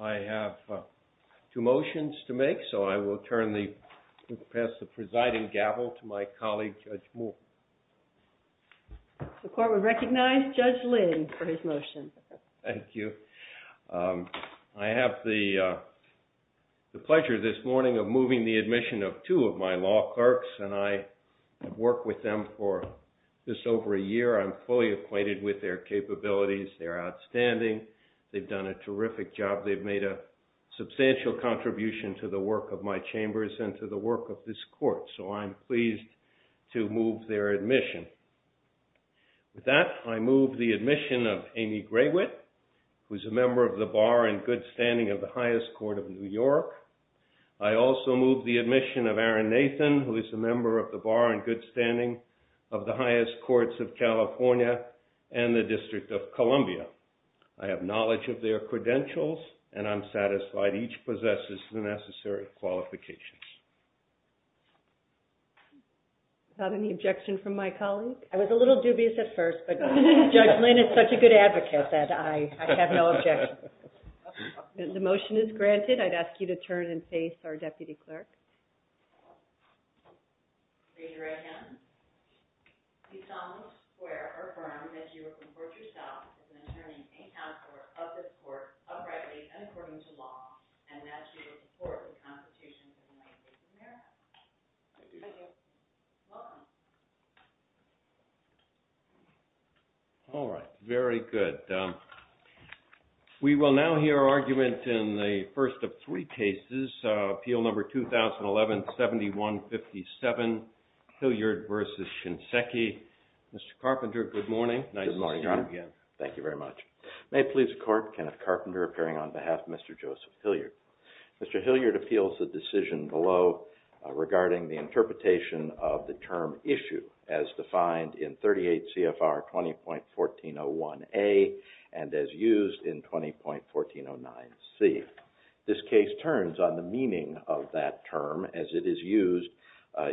I have two motions to make, so I will pass the presiding gavel to my colleague, Judge Moore. The court would recognize Judge Lynn for his motion. Thank you. I have the pleasure this morning of moving the admission of two of my law clerks, and I have worked with them for just over a year. I'm fully acquainted with their capabilities. They're outstanding. They've done a terrific job. They've made a substantial contribution to the work of my chambers and to the work of this court, so I'm pleased to move their admission. With that, I move the admission of Amy Graywitt, who is a member of the Bar and Good Standing of the Highest Court of New York. I also move the admission of Aaron Nathan, who is a member of the Bar and Good Standing of the Highest Courts of California and the District of Columbia. I have knowledge of their credentials, and I'm satisfied each possesses the necessary qualifications. Is there any objection from my colleague? I was a little dubious at first, but Judge Lynn is such a good advocate that I have no objection. The motion is granted. I'd ask you to turn and face our deputy clerk. All right. Very good. We will now hear argument in the first of three cases, Appeal Number 2011-7157, Hilliard v. Kinseki. Mr. Carpenter, good morning. Nice to see you again. Thank you very much. May it please the Court, Kenneth Carpenter, appearing on behalf of Mr. Joseph Hilliard. Mr. Hilliard appeals the decision below regarding the interpretation of the term issue as defined in 38 CFR 20.1401A and as used in 20.1409C. This case turns on the meaning of that term as it is used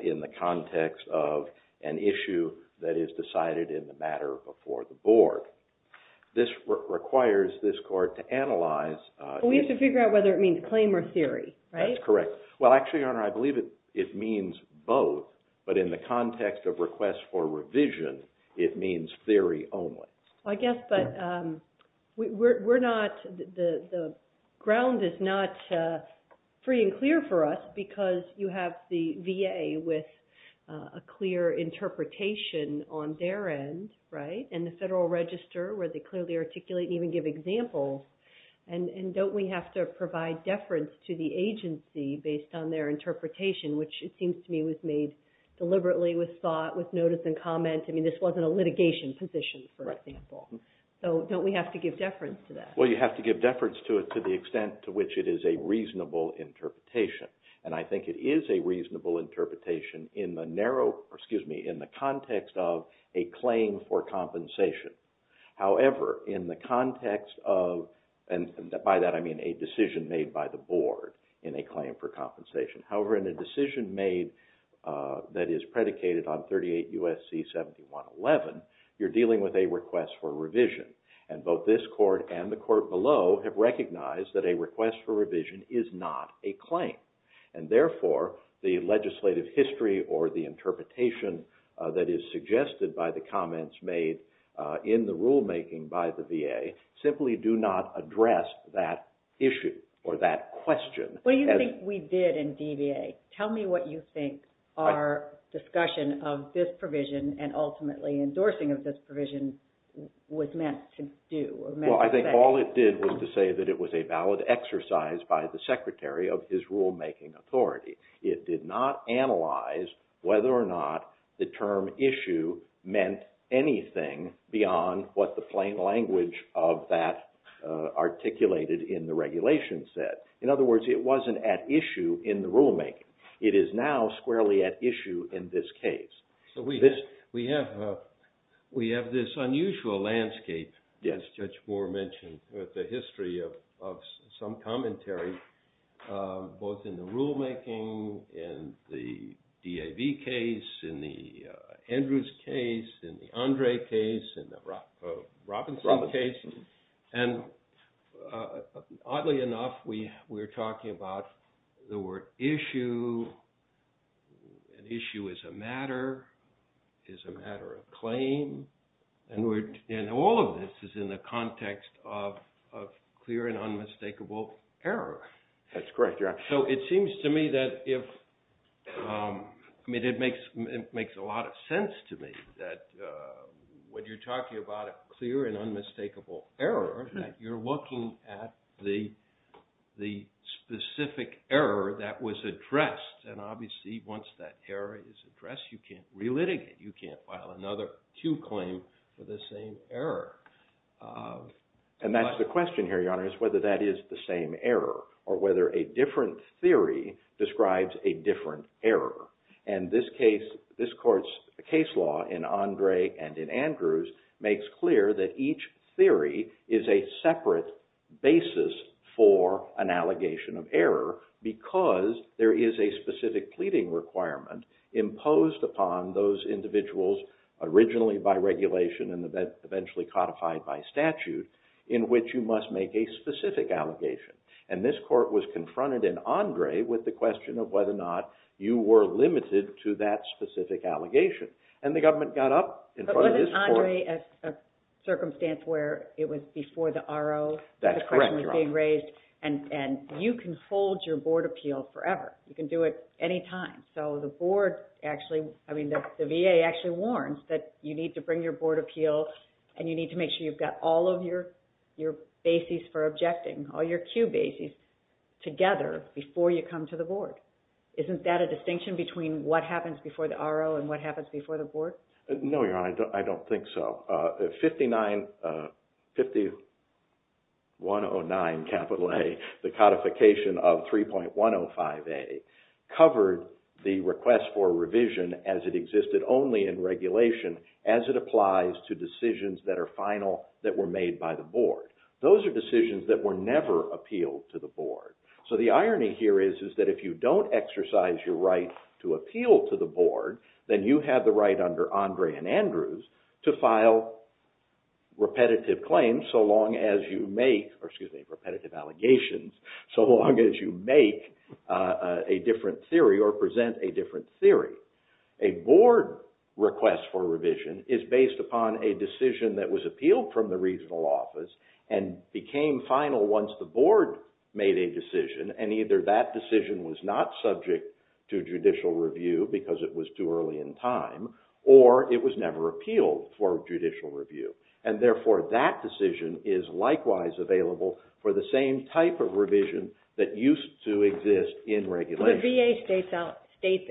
in the context of an issue that is decided in the matter before the Board. This requires this Court to analyze... We have to figure out whether it means claim or theory, right? That's correct. Well, actually, Your Honor, I believe it means both, but in the context of requests for revision, it means theory only. I guess, but the ground is not free and clear for us because you have the VA with a clear interpretation on their end, right, and the Federal Register where they clearly articulate and even give examples, and don't we have to provide deference to the agency based on their interpretation, which it seems to me was made deliberately with thought, with notice and comment. I mean, this wasn't a litigation position, for example. So don't we have to give deference to that? Well, you have to give deference to it to the extent to which it is a reasonable interpretation, and I think it is a reasonable interpretation in the narrow, excuse me, in the context of a claim for compensation. However, in the context of, and by that I mean a decision made by the Board in a claim for compensation. However, in a decision made that is predicated on 38 U.S.C. 7111, you're dealing with a request for revision, and both this Court and the Court below have recognized that a request for revision is not a claim, and therefore, the legislative history or the interpretation that is suggested by the comments made in the rulemaking by the VA simply do not address that issue or that question. What do you think we did in DVA? Tell me what you think our discussion of this provision and ultimately endorsing of this provision was meant to do. Well, I think all it did was to say that it was a valid exercise by the Secretary of his rulemaking authority. It did not analyze whether or not the term issue meant anything beyond what the plain language of that articulated in the regulation said. In other words, it wasn't at issue in the rulemaking. It is now squarely at issue in this case. So we have this unusual landscape, as Judge Moore mentioned, with the history of some commentary both in the rulemaking, in the DAV case, in the Andrews case, in the Andre case, in the Robinson case, and oddly enough, we were talking about the word issue. An issue is a matter, is a matter of claim, and all of this is in the context of clear and unmistakable error. That's correct, yeah. So it seems to me that if, I mean, it makes a lot of sense to me that when you're talking about clear and unmistakable error, that you're looking at the And obviously, once that error is addressed, you can't relitigate. You can't file another Q claim for the same error. And that's the question here, Your Honor, is whether that is the same error or whether a different theory describes a different error. And this case, this court's case law in Andre and in Andrews makes clear that each theory is a separate basis for an allegation of error because there is a specific pleading requirement imposed upon those individuals originally by regulation and eventually codified by statute, in which you must make a specific allegation. And this court was confronted in Andre with the question of whether or not you were limited to that specific allegation. And the government got up in front of this court. But wasn't Andre a circumstance where it was before the RO? That's correct, Your Honor. The question was being raised. And you can hold your board appeal forever. You can do it anytime. So the board actually, I mean, the VA actually warns that you need to bring your board appeal and you need to make sure you've got all of your bases for objecting, all your Q bases together before you come to the board. Isn't that a distinction between what happens before the RO and what happens before the board? No, Your Honor. I don't think so. 5109 capital A, the codification of 3.105A covered the request for revision as it existed only in regulation as it applies to decisions that are final that were made by the board. Those are decisions that were never appealed to the board. So the irony here is that if you don't exercise your right to appeal to the board, then you have the right under Andre and Andrews to file repetitive claims so long as you make, or excuse me, repetitive allegations so long as you make a different theory or present a different theory. A board request for revision is based upon a decision that was appealed from the regional office and became final once the board made a decision, and either that decision was not subject to judicial review because it was too early in time, or it was never appealed for judicial review. And therefore, that decision is likewise available for the same type of revision that used to exist in regulation. The VA states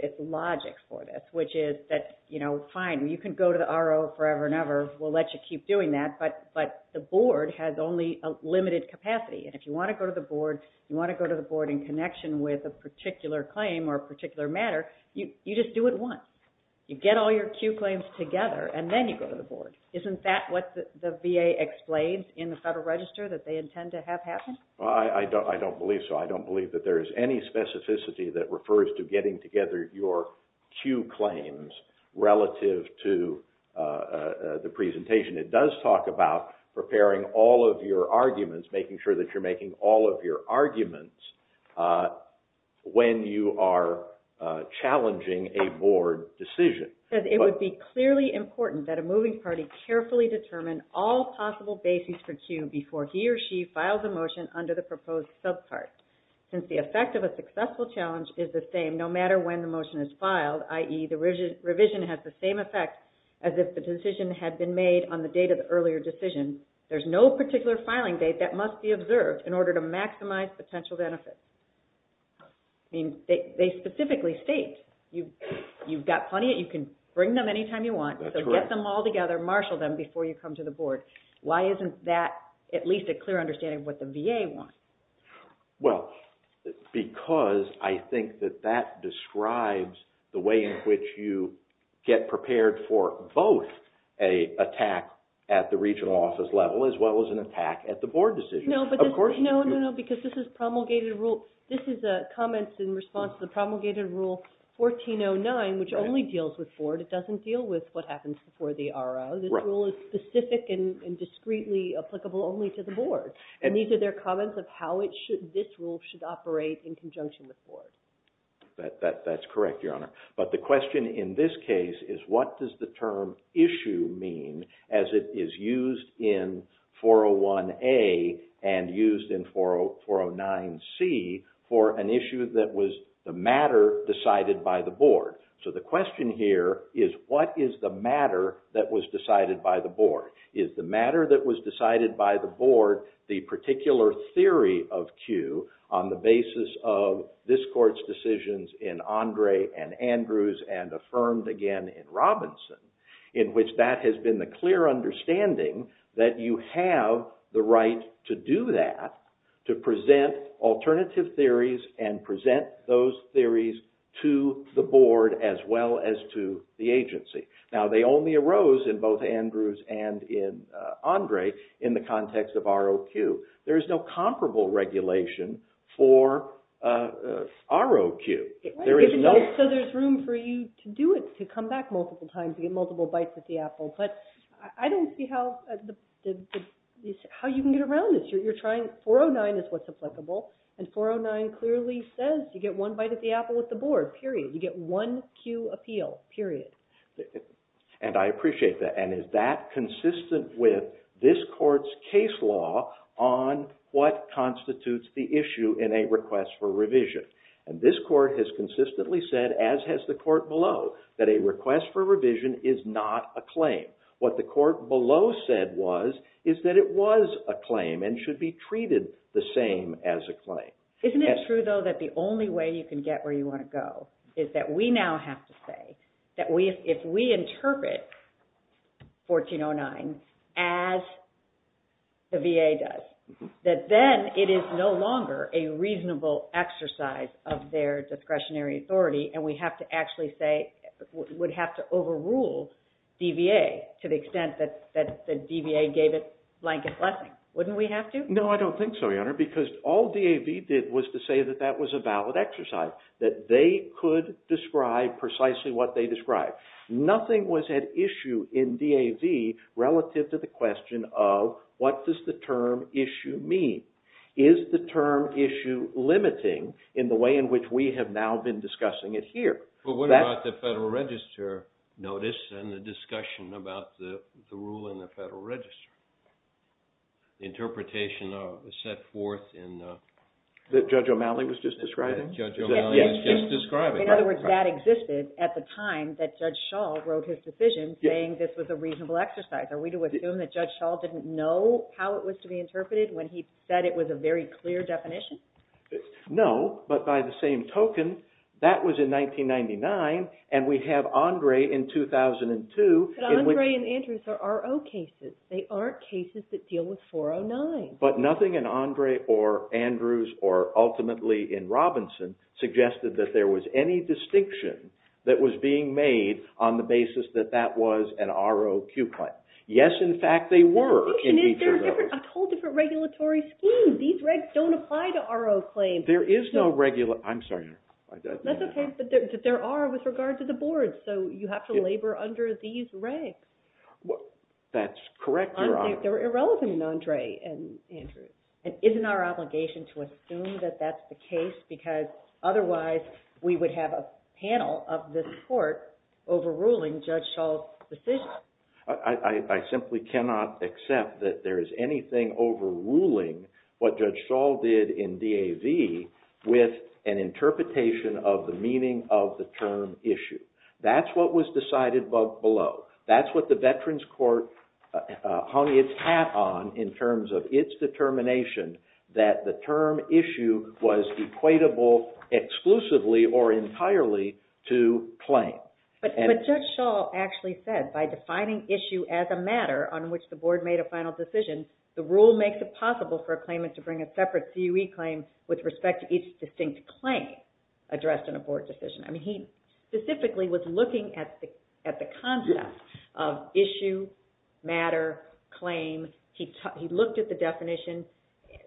its logic for this, which is that, you know, fine, you can go to the RO forever and ever, we'll let you keep doing that, but the board has only a limited capacity. And if you want to go to the board, you want to go to the board in connection with a particular claim or a particular matter, you just do it once. You get all your Q claims together, and then you go to the board. Isn't that what the VA explains in the Federal Register that they intend to have happen? Well, I don't believe so. I don't believe that there is any specificity that refers to getting together your Q claims relative to the presentation. It does talk about preparing all of your arguments, making sure that you're making all of your arguments when you are challenging a board decision. It would be clearly important that a moving party carefully determine all possible bases for Q before he or she files a motion under the proposed subpart, since the effect of a successful challenge is the same no matter when the motion is filed, i.e., the revision has the same effect as if the decision had been made on the date of the earlier decision. There's no particular filing date that must be observed in order to maximize potential benefits. I mean, they specifically state you've got plenty, you can bring them anytime you want, so get them all together, marshal them before you come to the board. Why isn't that at least a clear understanding of what the VA wants? Well, because I think that describes the way in which you get prepared for both an attack at the regional office level as well as an attack at the board decision. No, no, no, because this is promulgated rule. This is a comment in response to the promulgated rule 1409, which only deals with board. It doesn't deal with what happens before the RO. This rule is specific and discreetly applicable only to the board. And these are their comments of how this rule should operate in conjunction with board. That's correct, Your Honor. But the question in this case is what does the term issue mean as it is used in 401A and used in 409C for an issue that was the matter decided by the board? So the question here is what is the matter that was decided by the board? Is the matter that was in Andre and Andrews and affirmed again in Robinson in which that has been the clear understanding that you have the right to do that, to present alternative theories and present those theories to the board as well as to the agency. Now they only arose in both Andrews and in Andre in the context of ROQ. There is no comparable regulation for ROQ. So there's room for you to do it, to come back multiple times, to get multiple bites at the apple. But I don't see how you can get around this. 409 is what's applicable and 409 clearly says you get one bite at the apple with the board, period. You get one Q appeal, period. And I appreciate that. And that consistent with this court's case law on what constitutes the issue in a request for revision. And this court has consistently said as has the court below that a request for revision is not a claim. What the court below said was is that it was a claim and should be treated the same as a claim. Isn't it true though that the only way you can get where you want to go is that we now have to say that if we interpret 1409 as the VA does, that then it is no longer a reasonable exercise of their discretionary authority and we have to actually say, would have to overrule DVA to the extent that the DVA gave it blanket blessing. Wouldn't we have to? No, I don't think so, Your Honor, because all DAV did was to say that that was a valid exercise, that they could describe precisely what they described. Nothing was at issue in DAV relative to the question of what does the term issue mean? Is the term issue limiting in the way in which we have now been discussing it here? But what about the Federal Register notice and the discussion about the rule in the Federal Register? Interpretation of the set forth in the... Judge O'Malley was just describing? Judge O'Malley was just describing. In other words, that existed at the time that Judge Schall wrote his decision saying this was a reasonable exercise. Are we to assume that Judge Schall didn't know how it was to be interpreted when he said it was a very clear definition? No, but by the same token, that was in 1999 and we have Andre in 2002. But Andre and Andrews are RO cases. They aren't cases that deal with ultimately in Robinson suggested that there was any distinction that was being made on the basis that that was an ROQ claim. Yes, in fact, they were in each of those. There's a whole different regulatory scheme. These regs don't apply to RO claims. There is no regular... I'm sorry, Your Honor. That's okay, but there are with regard to the boards, so you have to labor under these regs. That's correct, Your Honor. They're irrelevant in Andre and Andrews. Isn't our obligation to assume that that's the case because otherwise we would have a panel of this court overruling Judge Schall's decision? I simply cannot accept that there is anything overruling what Judge Schall did in DAV with an interpretation of the meaning of the term issue. That's what was decided above below. That's what the Veterans Court hung its hat on in terms of its determination that the term issue was equatable exclusively or entirely to claim. But Judge Schall actually said by defining issue as a matter on which the board made a final decision, the rule makes it possible for a claimant to bring a separate CUE claim with respect to each distinct claim addressed in a board decision. I mean, he specifically was looking at the concept of issue, matter, claim. He looked at the definition.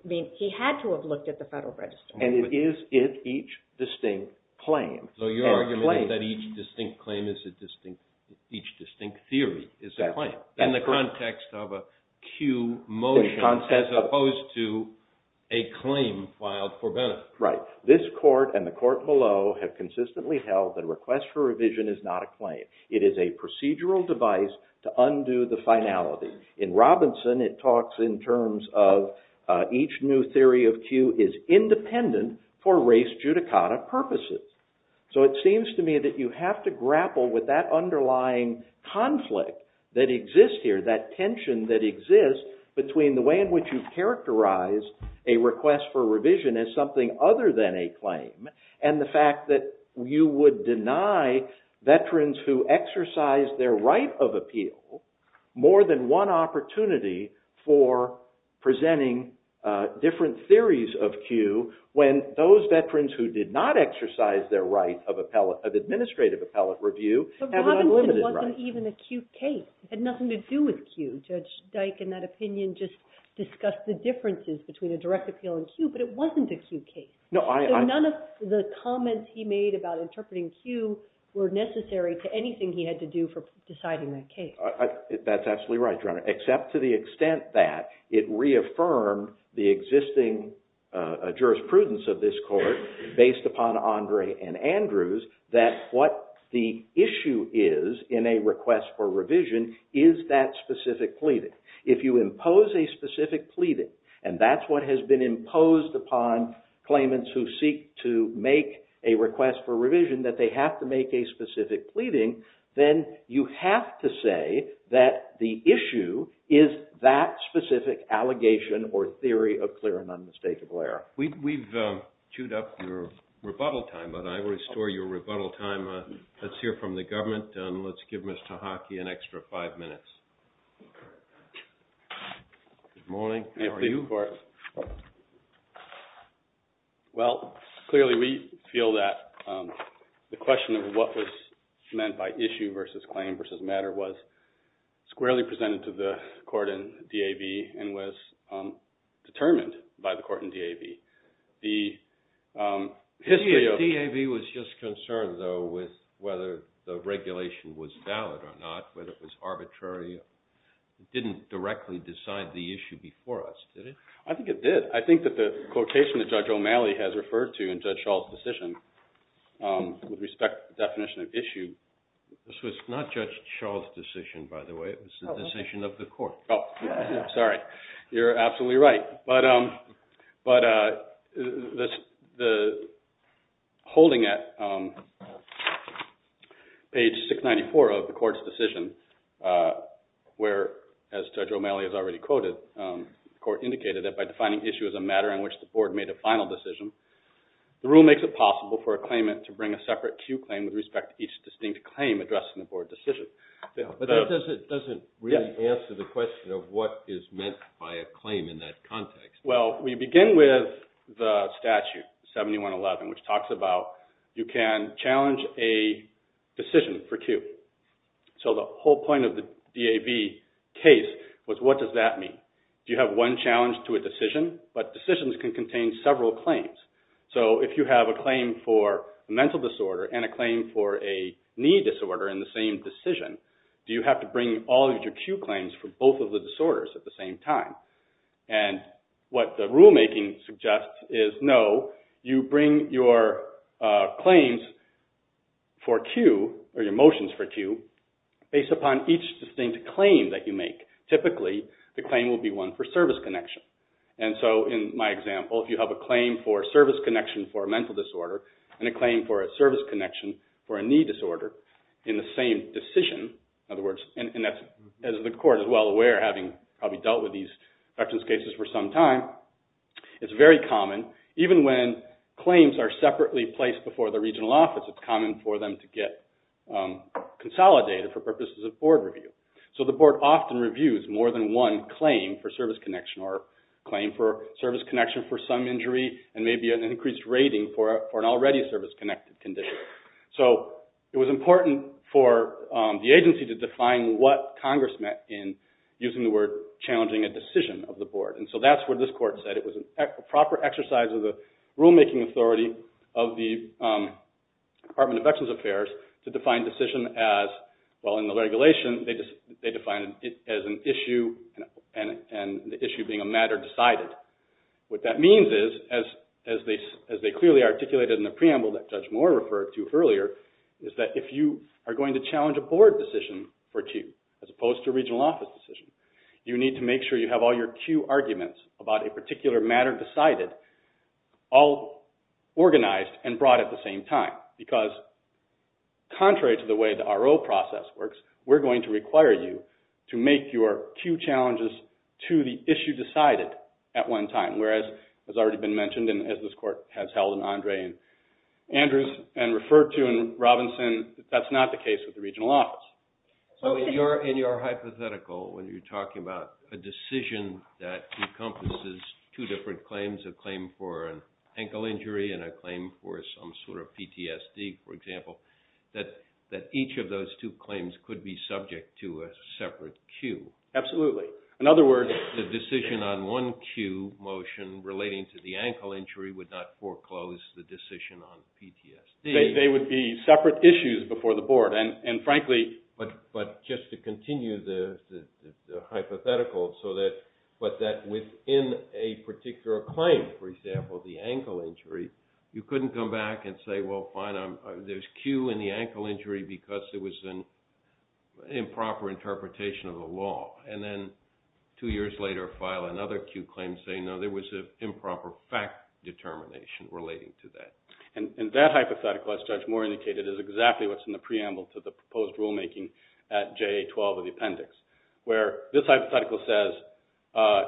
I mean, he had to have looked at the Federal Register. And it is in each distinct claim. So your argument is that each distinct claim is a distinct, each distinct theory is a claim in the context of a CUE motion as opposed to a claim filed for benefit. Right. This court and the court below have consistently held that a request for revision is not a claim. It is a procedural device to undo the finality. In Robinson, it talks in terms of each new theory of CUE is independent for race judicata purposes. So it seems to me that you have to grapple with that underlying conflict that exists here, that tension that exists between the way in which you characterize a request for revision as something other than a claim and the fact that you would deny veterans who exercise their right of appeal more than one opportunity for presenting different theories of CUE when those veterans who did not exercise their right of administrative appellate review have an unlimited right. But Robinson wasn't even a CUE case. It had nothing to do with CUE. Judge Dyke, in that opinion, just discussed the None of the comments he made about interpreting CUE were necessary to anything he had to do for deciding that case. That's absolutely right, Your Honor, except to the extent that it reaffirmed the existing jurisprudence of this court based upon Andre and Andrews that what the issue is in a request for revision is that specific pleading. If you impose a specific pleading, and that's what has been imposed upon claimants who seek to make a request for revision that they have to make a specific pleading, then you have to say that the issue is that specific allegation or theory of clear and unmistakable error. We've chewed up your rebuttal time, but I will restore your rebuttal time. Let's hear from the government and let's give Mr. Hughes a chance. Well, clearly, we feel that the question of what was meant by issue versus claim versus matter was squarely presented to the court in DAV and was determined by the court in DAV. The DAV was just concerned, though, with whether the regulation was valid or not, whether it was arbitrary. It didn't directly decide the issue before us, did it? I think it did. I think that the quotation that Judge O'Malley has referred to in Judge Schall's decision with respect to the definition of issue... This was not Judge Schall's decision, by the way. It was the decision of the court. Oh, sorry. You're absolutely right. But holding at page 694 of the court's decision, where, as Judge O'Malley has already quoted, the court indicated that by defining issue as a matter in which the board made a final decision, the rule makes it possible for a claimant to bring a separate Q claim with respect to each distinct claim addressed in the board decision. But that doesn't really answer the question of what is meant by a claim in that context. Well, we begin with the statute, 7111, which talks about you can challenge a decision for Q. So the whole point of the DAV case was what does that mean? Do you have one challenge to a decision? But decisions can contain several claims. So if you have a claim for a mental disorder and a claim for a knee disorder in the same decision, do you have to bring all of your Q claims for both of the disorders at the same time? And what the rulemaking suggests is, no, you bring your claims for Q, or your motions for Q, based upon each distinct claim that you make. Typically, the claim will be one for service connection. And so in my example, if you have a claim for service connection for a mental disorder and a claim for a service connection for a knee disorder in the same decision, in other words, and as the court is well aware, having probably dealt with these veterans cases for some time, it's very common. Even when claims are separately placed before the regional office, it's common for them to get consolidated for purposes of board review. So the board often reviews more than one claim for service connection or claim for service connection for some injury and maybe an increased rating for an already service-connected condition. So it was important for the agency to define what Congress meant in using the word challenging a decision of the board. And so that's what this court said. It was a proper exercise of the rulemaking authority of the Department of Veterans Affairs to define decision as, well, in the regulation, they defined it as an issue and the issue being a matter decided. What that means is, as they clearly articulated in the preamble that if you are going to challenge a board decision for a cue, as opposed to a regional office decision, you need to make sure you have all your cue arguments about a particular matter decided all organized and brought at the same time. Because contrary to the way the RO process works, we're going to require you to make your cue challenges to the issue decided at one time, whereas it has already been mentioned and as this court has held in Andre and Andrew's and referred to in Robinson, that's not the case with the regional office. So in your hypothetical, when you're talking about a decision that encompasses two different claims, a claim for an ankle injury and a claim for some sort of PTSD, for example, that each of those two claims could be subject to a separate cue. Absolutely. In other words, the decision on one cue motion relating to the ankle injury would not foreclose the decision on PTSD. They would be separate issues before the board, and frankly... But just to continue the hypothetical, so that within a particular claim, for example, the ankle injury, you couldn't come back and say, well, fine, there's cue in the ankle injury because there was an improper interpretation of the law, and then two years later file another cue claim saying, no, there was an improper fact determination relating to that. And that hypothetical, as Judge Moore indicated, is exactly what's in the preamble to the proposed rulemaking at JA-12 of the appendix, where this hypothetical says,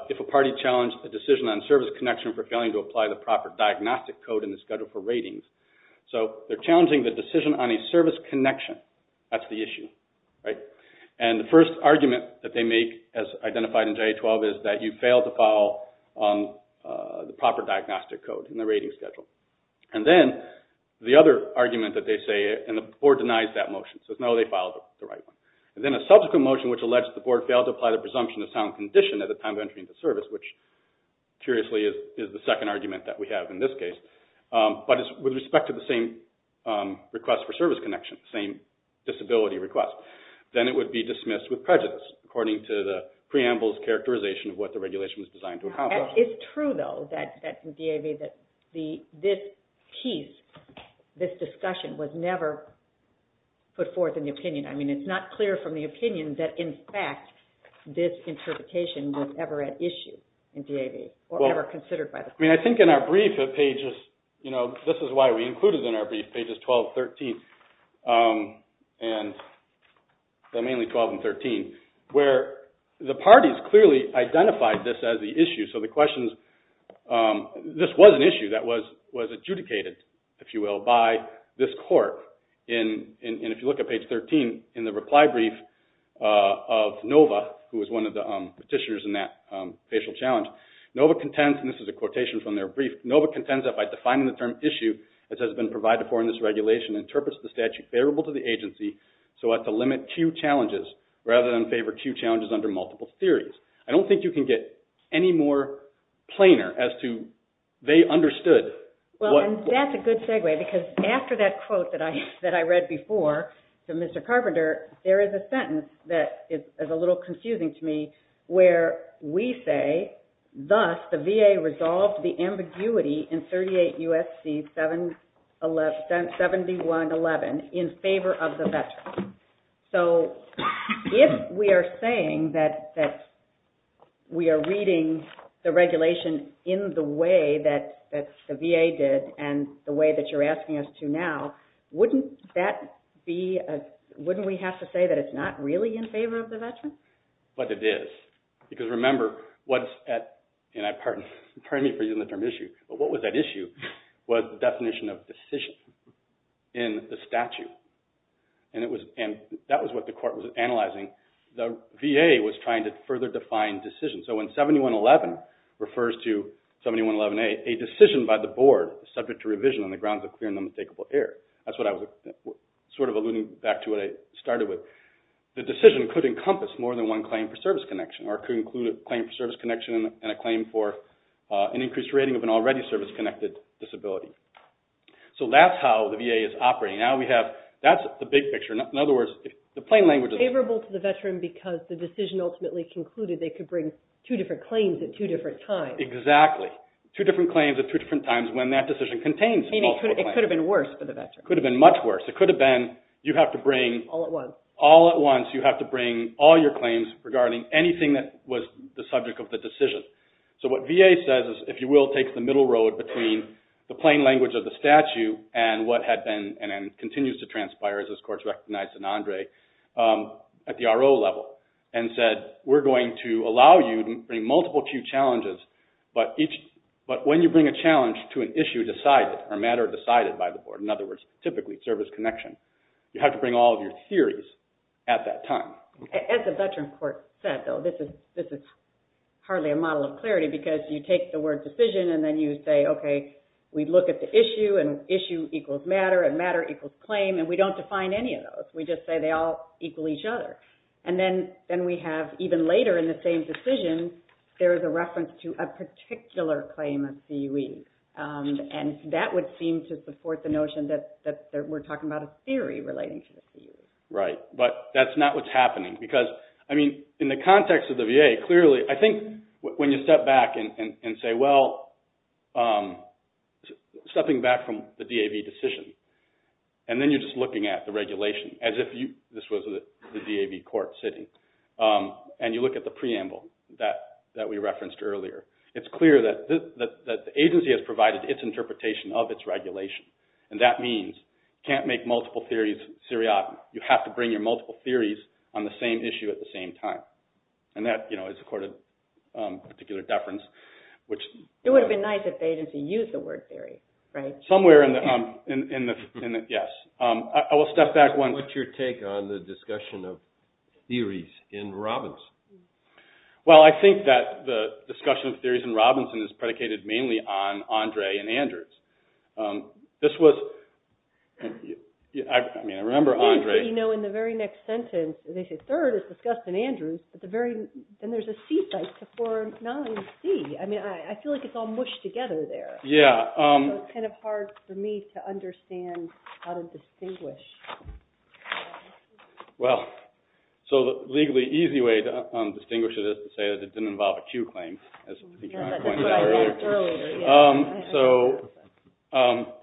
if a party challenged a decision on service connection for failing to apply the proper diagnostic code in the schedule for ratings, so they're challenging the decision on a service connection. That's the issue, right? And the first argument that they make, as identified in JA-12, is that you failed to follow the proper diagnostic code in the rating schedule. And then the other argument that they say, and the board denies that motion, says no, they filed the right one. And then a subsequent motion which alleged the board failed to apply the presumption of sound condition at the time of entering into service, which, curiously, is the second argument that we have in this case, but it's with respect to the same request for prejudice, according to the preamble's characterization of what the regulation was designed to accomplish. It's true, though, that in DAV, that this piece, this discussion, was never put forth in the opinion. I mean, it's not clear from the opinion that, in fact, this interpretation was ever at issue in DAV, or ever considered by the court. I mean, I think in our brief, this is why we included in our brief, pages 12 and 13, where the parties clearly identified this as the issue. So the question is, this was an issue that was adjudicated, if you will, by this court. And if you look at page 13, in the reply brief of Nova, who was one of the petitioners in that facial challenge, Nova contends, and this is a quotation from their brief, Nova contends that by defining the term issue, as has been provided for in this regulation, interprets the statute favorable to the agency, so as to limit cue challenges, rather than favor cue challenges under multiple theories. I don't think you can get any more plainer as to, they understood. Well, and that's a good segue, because after that quote that I read before, to Mr. Carpenter, there is a sentence that is a little confusing to me, where we say, thus, the VA resolved the ambiguity in 38 U.S.C. 7111, in favor of the veteran. So if we are saying that we are reading the regulation in the way that the VA did, and the way that you're asking us to now, wouldn't that be, wouldn't we have to say that it's not really in favor of the veteran? But it is. Because remember, what's at, and I pardon, pardon me for using the term issue, but what was at issue, was the definition of decision in the statute. And it was, and that was what the court was analyzing. The VA was trying to further define decision. So when 7111 refers to 7111A, a decision by the board subject to revision on the grounds of clear and unmistakable error. That's what I was sort of alluding back to what I started with. The decision could encompass more than one claim for service connection, or could include a claim for service connection and a claim for an increased rating of an already service-connected disability. So that's how the VA is operating. Now we have, that's the big picture. In other words, the plain language is favorable to the veteran because the decision ultimately concluded they could bring two different claims at two different times. Exactly. Two different claims at two different times when that decision contains multiple claims. It could have been worse for the veteran. Could have been much worse. It could have been, you have to bring. All at once. All at once, you have to bring all your claims regarding anything that was the subject of the decision. So what VA says is, if you will, take the middle road between the plain language of the statute and what had been, and continues to transpire as this court recognized in Andre, at the RO level, and said, we're going to allow you to bring multiple true challenges, but when you bring a challenge to an issue decided, or matter decided by the board, in other words, typically service connection, you have to bring all of your theories at that time. As the veteran court said, though, this is hardly a model of clarity because you take the word decision and then you say, okay, we look at the issue, and issue equals matter, and matter equals claim, and we don't define any of those. We just say they all equal each other. And then we have, even later in the same decision, there is a reference to a particular claim of CUE, and that would seem to support the notion that we're talking about a theory relating to the CUE. Right. But that's not what's happening because, I mean, in the context of the VA, clearly, I think when you step back and say, well, stepping back from the DAV decision, and then you're just looking at the regulation as if this was the DAV court sitting, and you look at the preamble that we referenced earlier, it's clear that the agency has provided its interpretation of its regulation, and that means you can't make multiple theories seriatim. You have to bring your multiple theories on the same issue at the same time. And that, you know, would support a particular deference, which... It would have been nice if the agency used the word theory, right? Somewhere in the, yes. I will step back one... What's your take on the discussion of theories in Robinson? Well, I think that the discussion of theories in Robinson is predicated mainly on Andre and Andrews. This was, I mean, I remember Andre... You know, in the very next session, he said, you know, it's hard for a receipt like to form not only a C. I mean, I feel like it's all mushed together there. Yeah. It's kind of hard for me to understand how to distinguish. Well, so the legally easy way to distinguish it is to say that it didn't involve a Q claim, as I think you might have pointed out earlier. So,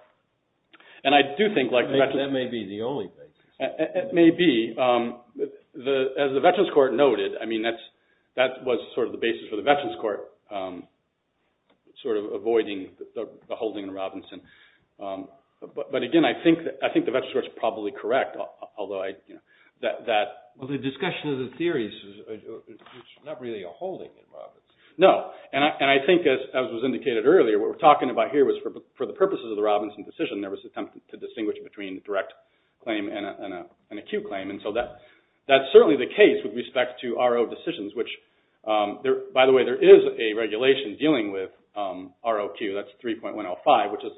and I do think like... That may be the only thing. It may be. As the Veterans Court noted, I mean, that was sort of the basis for the Veterans Court sort of avoiding the holding in Robinson. But again, I think the Veterans Court is probably correct, although I... Well, the discussion of the theories is not really a holding in Robinson. No. And I think, as was indicated earlier, what we're talking about here was for the purposes of the Robinson decision, there was an attempt to distinguish between direct claim and a Q claim. And so that's certainly the case with respect to RO decisions, which... By the way, there is a regulation dealing with ROQ. That's 3.105, which has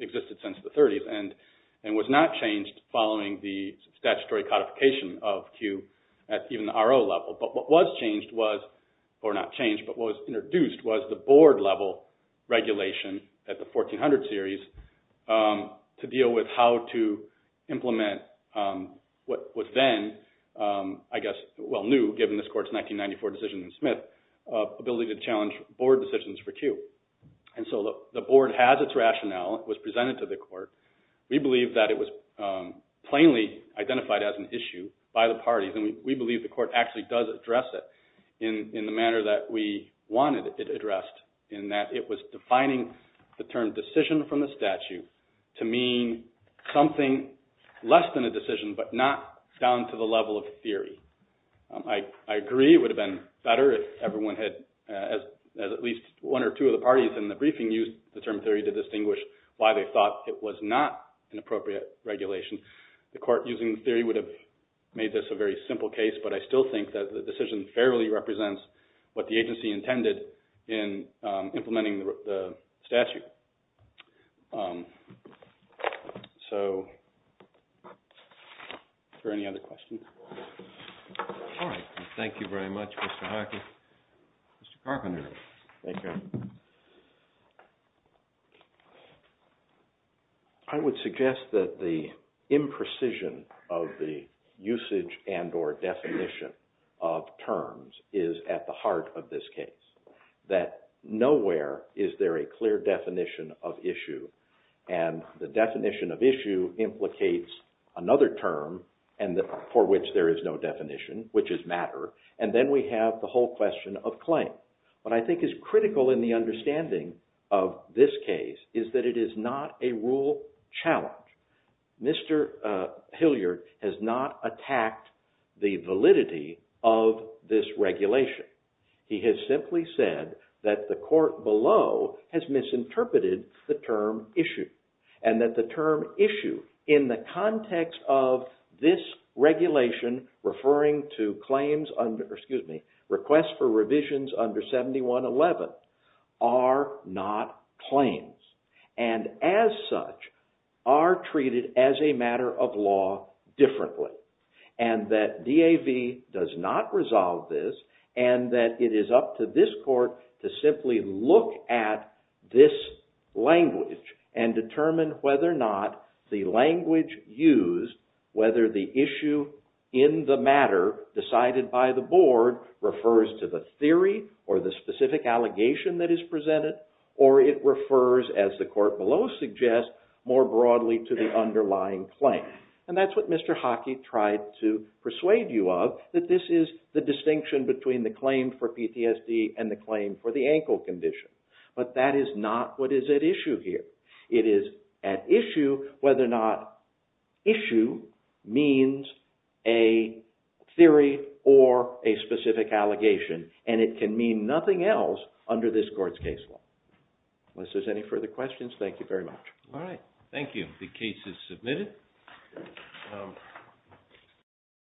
existed since the 30s and was not changed following the statutory codification of Q at even the RO level. But what was changed was... Or not to deal with how to implement what was then, I guess, well, new given this court's 1994 decision in Smith, ability to challenge board decisions for Q. And so the board has its rationale. It was presented to the court. We believe that it was plainly identified as an issue by the parties, and we believe the court actually does address it in the manner that we wanted it addressed, in that it was defining the term decision from the statute to mean something less than a decision, but not down to the level of theory. I agree it would have been better if everyone had, as at least one or two of the parties in the briefing, used the term theory to distinguish why they thought it was not an appropriate regulation. The court using the theory would have made this a very simple case, but I still think that the decision fairly represents what the agency intended in implementing the statute. So, are there any other questions? All right. Thank you very much, Mr. Hockey. Mr. Carpenter. Thank you. I would suggest that the imprecision of the usage and or definition of terms is at the heart of this case. That nowhere is there a clear definition of issue, and the definition of issue implicates another term for which there is no definition, which is matter, and then we have the whole question of claim. What I think is critical in the understanding of this case is that it is not a rule challenge. Mr. Hilliard has not attacked the validity of this regulation. He has simply said that the court below has misinterpreted the term issue, and that the requests for revisions under 7111 are not claims, and as such are treated as a matter of law differently, and that DAV does not resolve this, and that it is up to this court to simply look at this language and determine whether or not the language used, whether the issue in the matter decided by the board refers to the theory or the specific allegation that is presented, or it refers, as the court below suggests, more broadly to the underlying claim. And that's what Mr. Hockey tried to persuade you of, that this is the distinction between the claim for PTSD and the claim for the ankle condition, but that is not what is at issue here. It is at issue whether or not issue means a theory or a specific allegation, and it can mean nothing else under this court's case law. Unless there's any further questions, thank you very much. All right. Thank you. The case is submitted.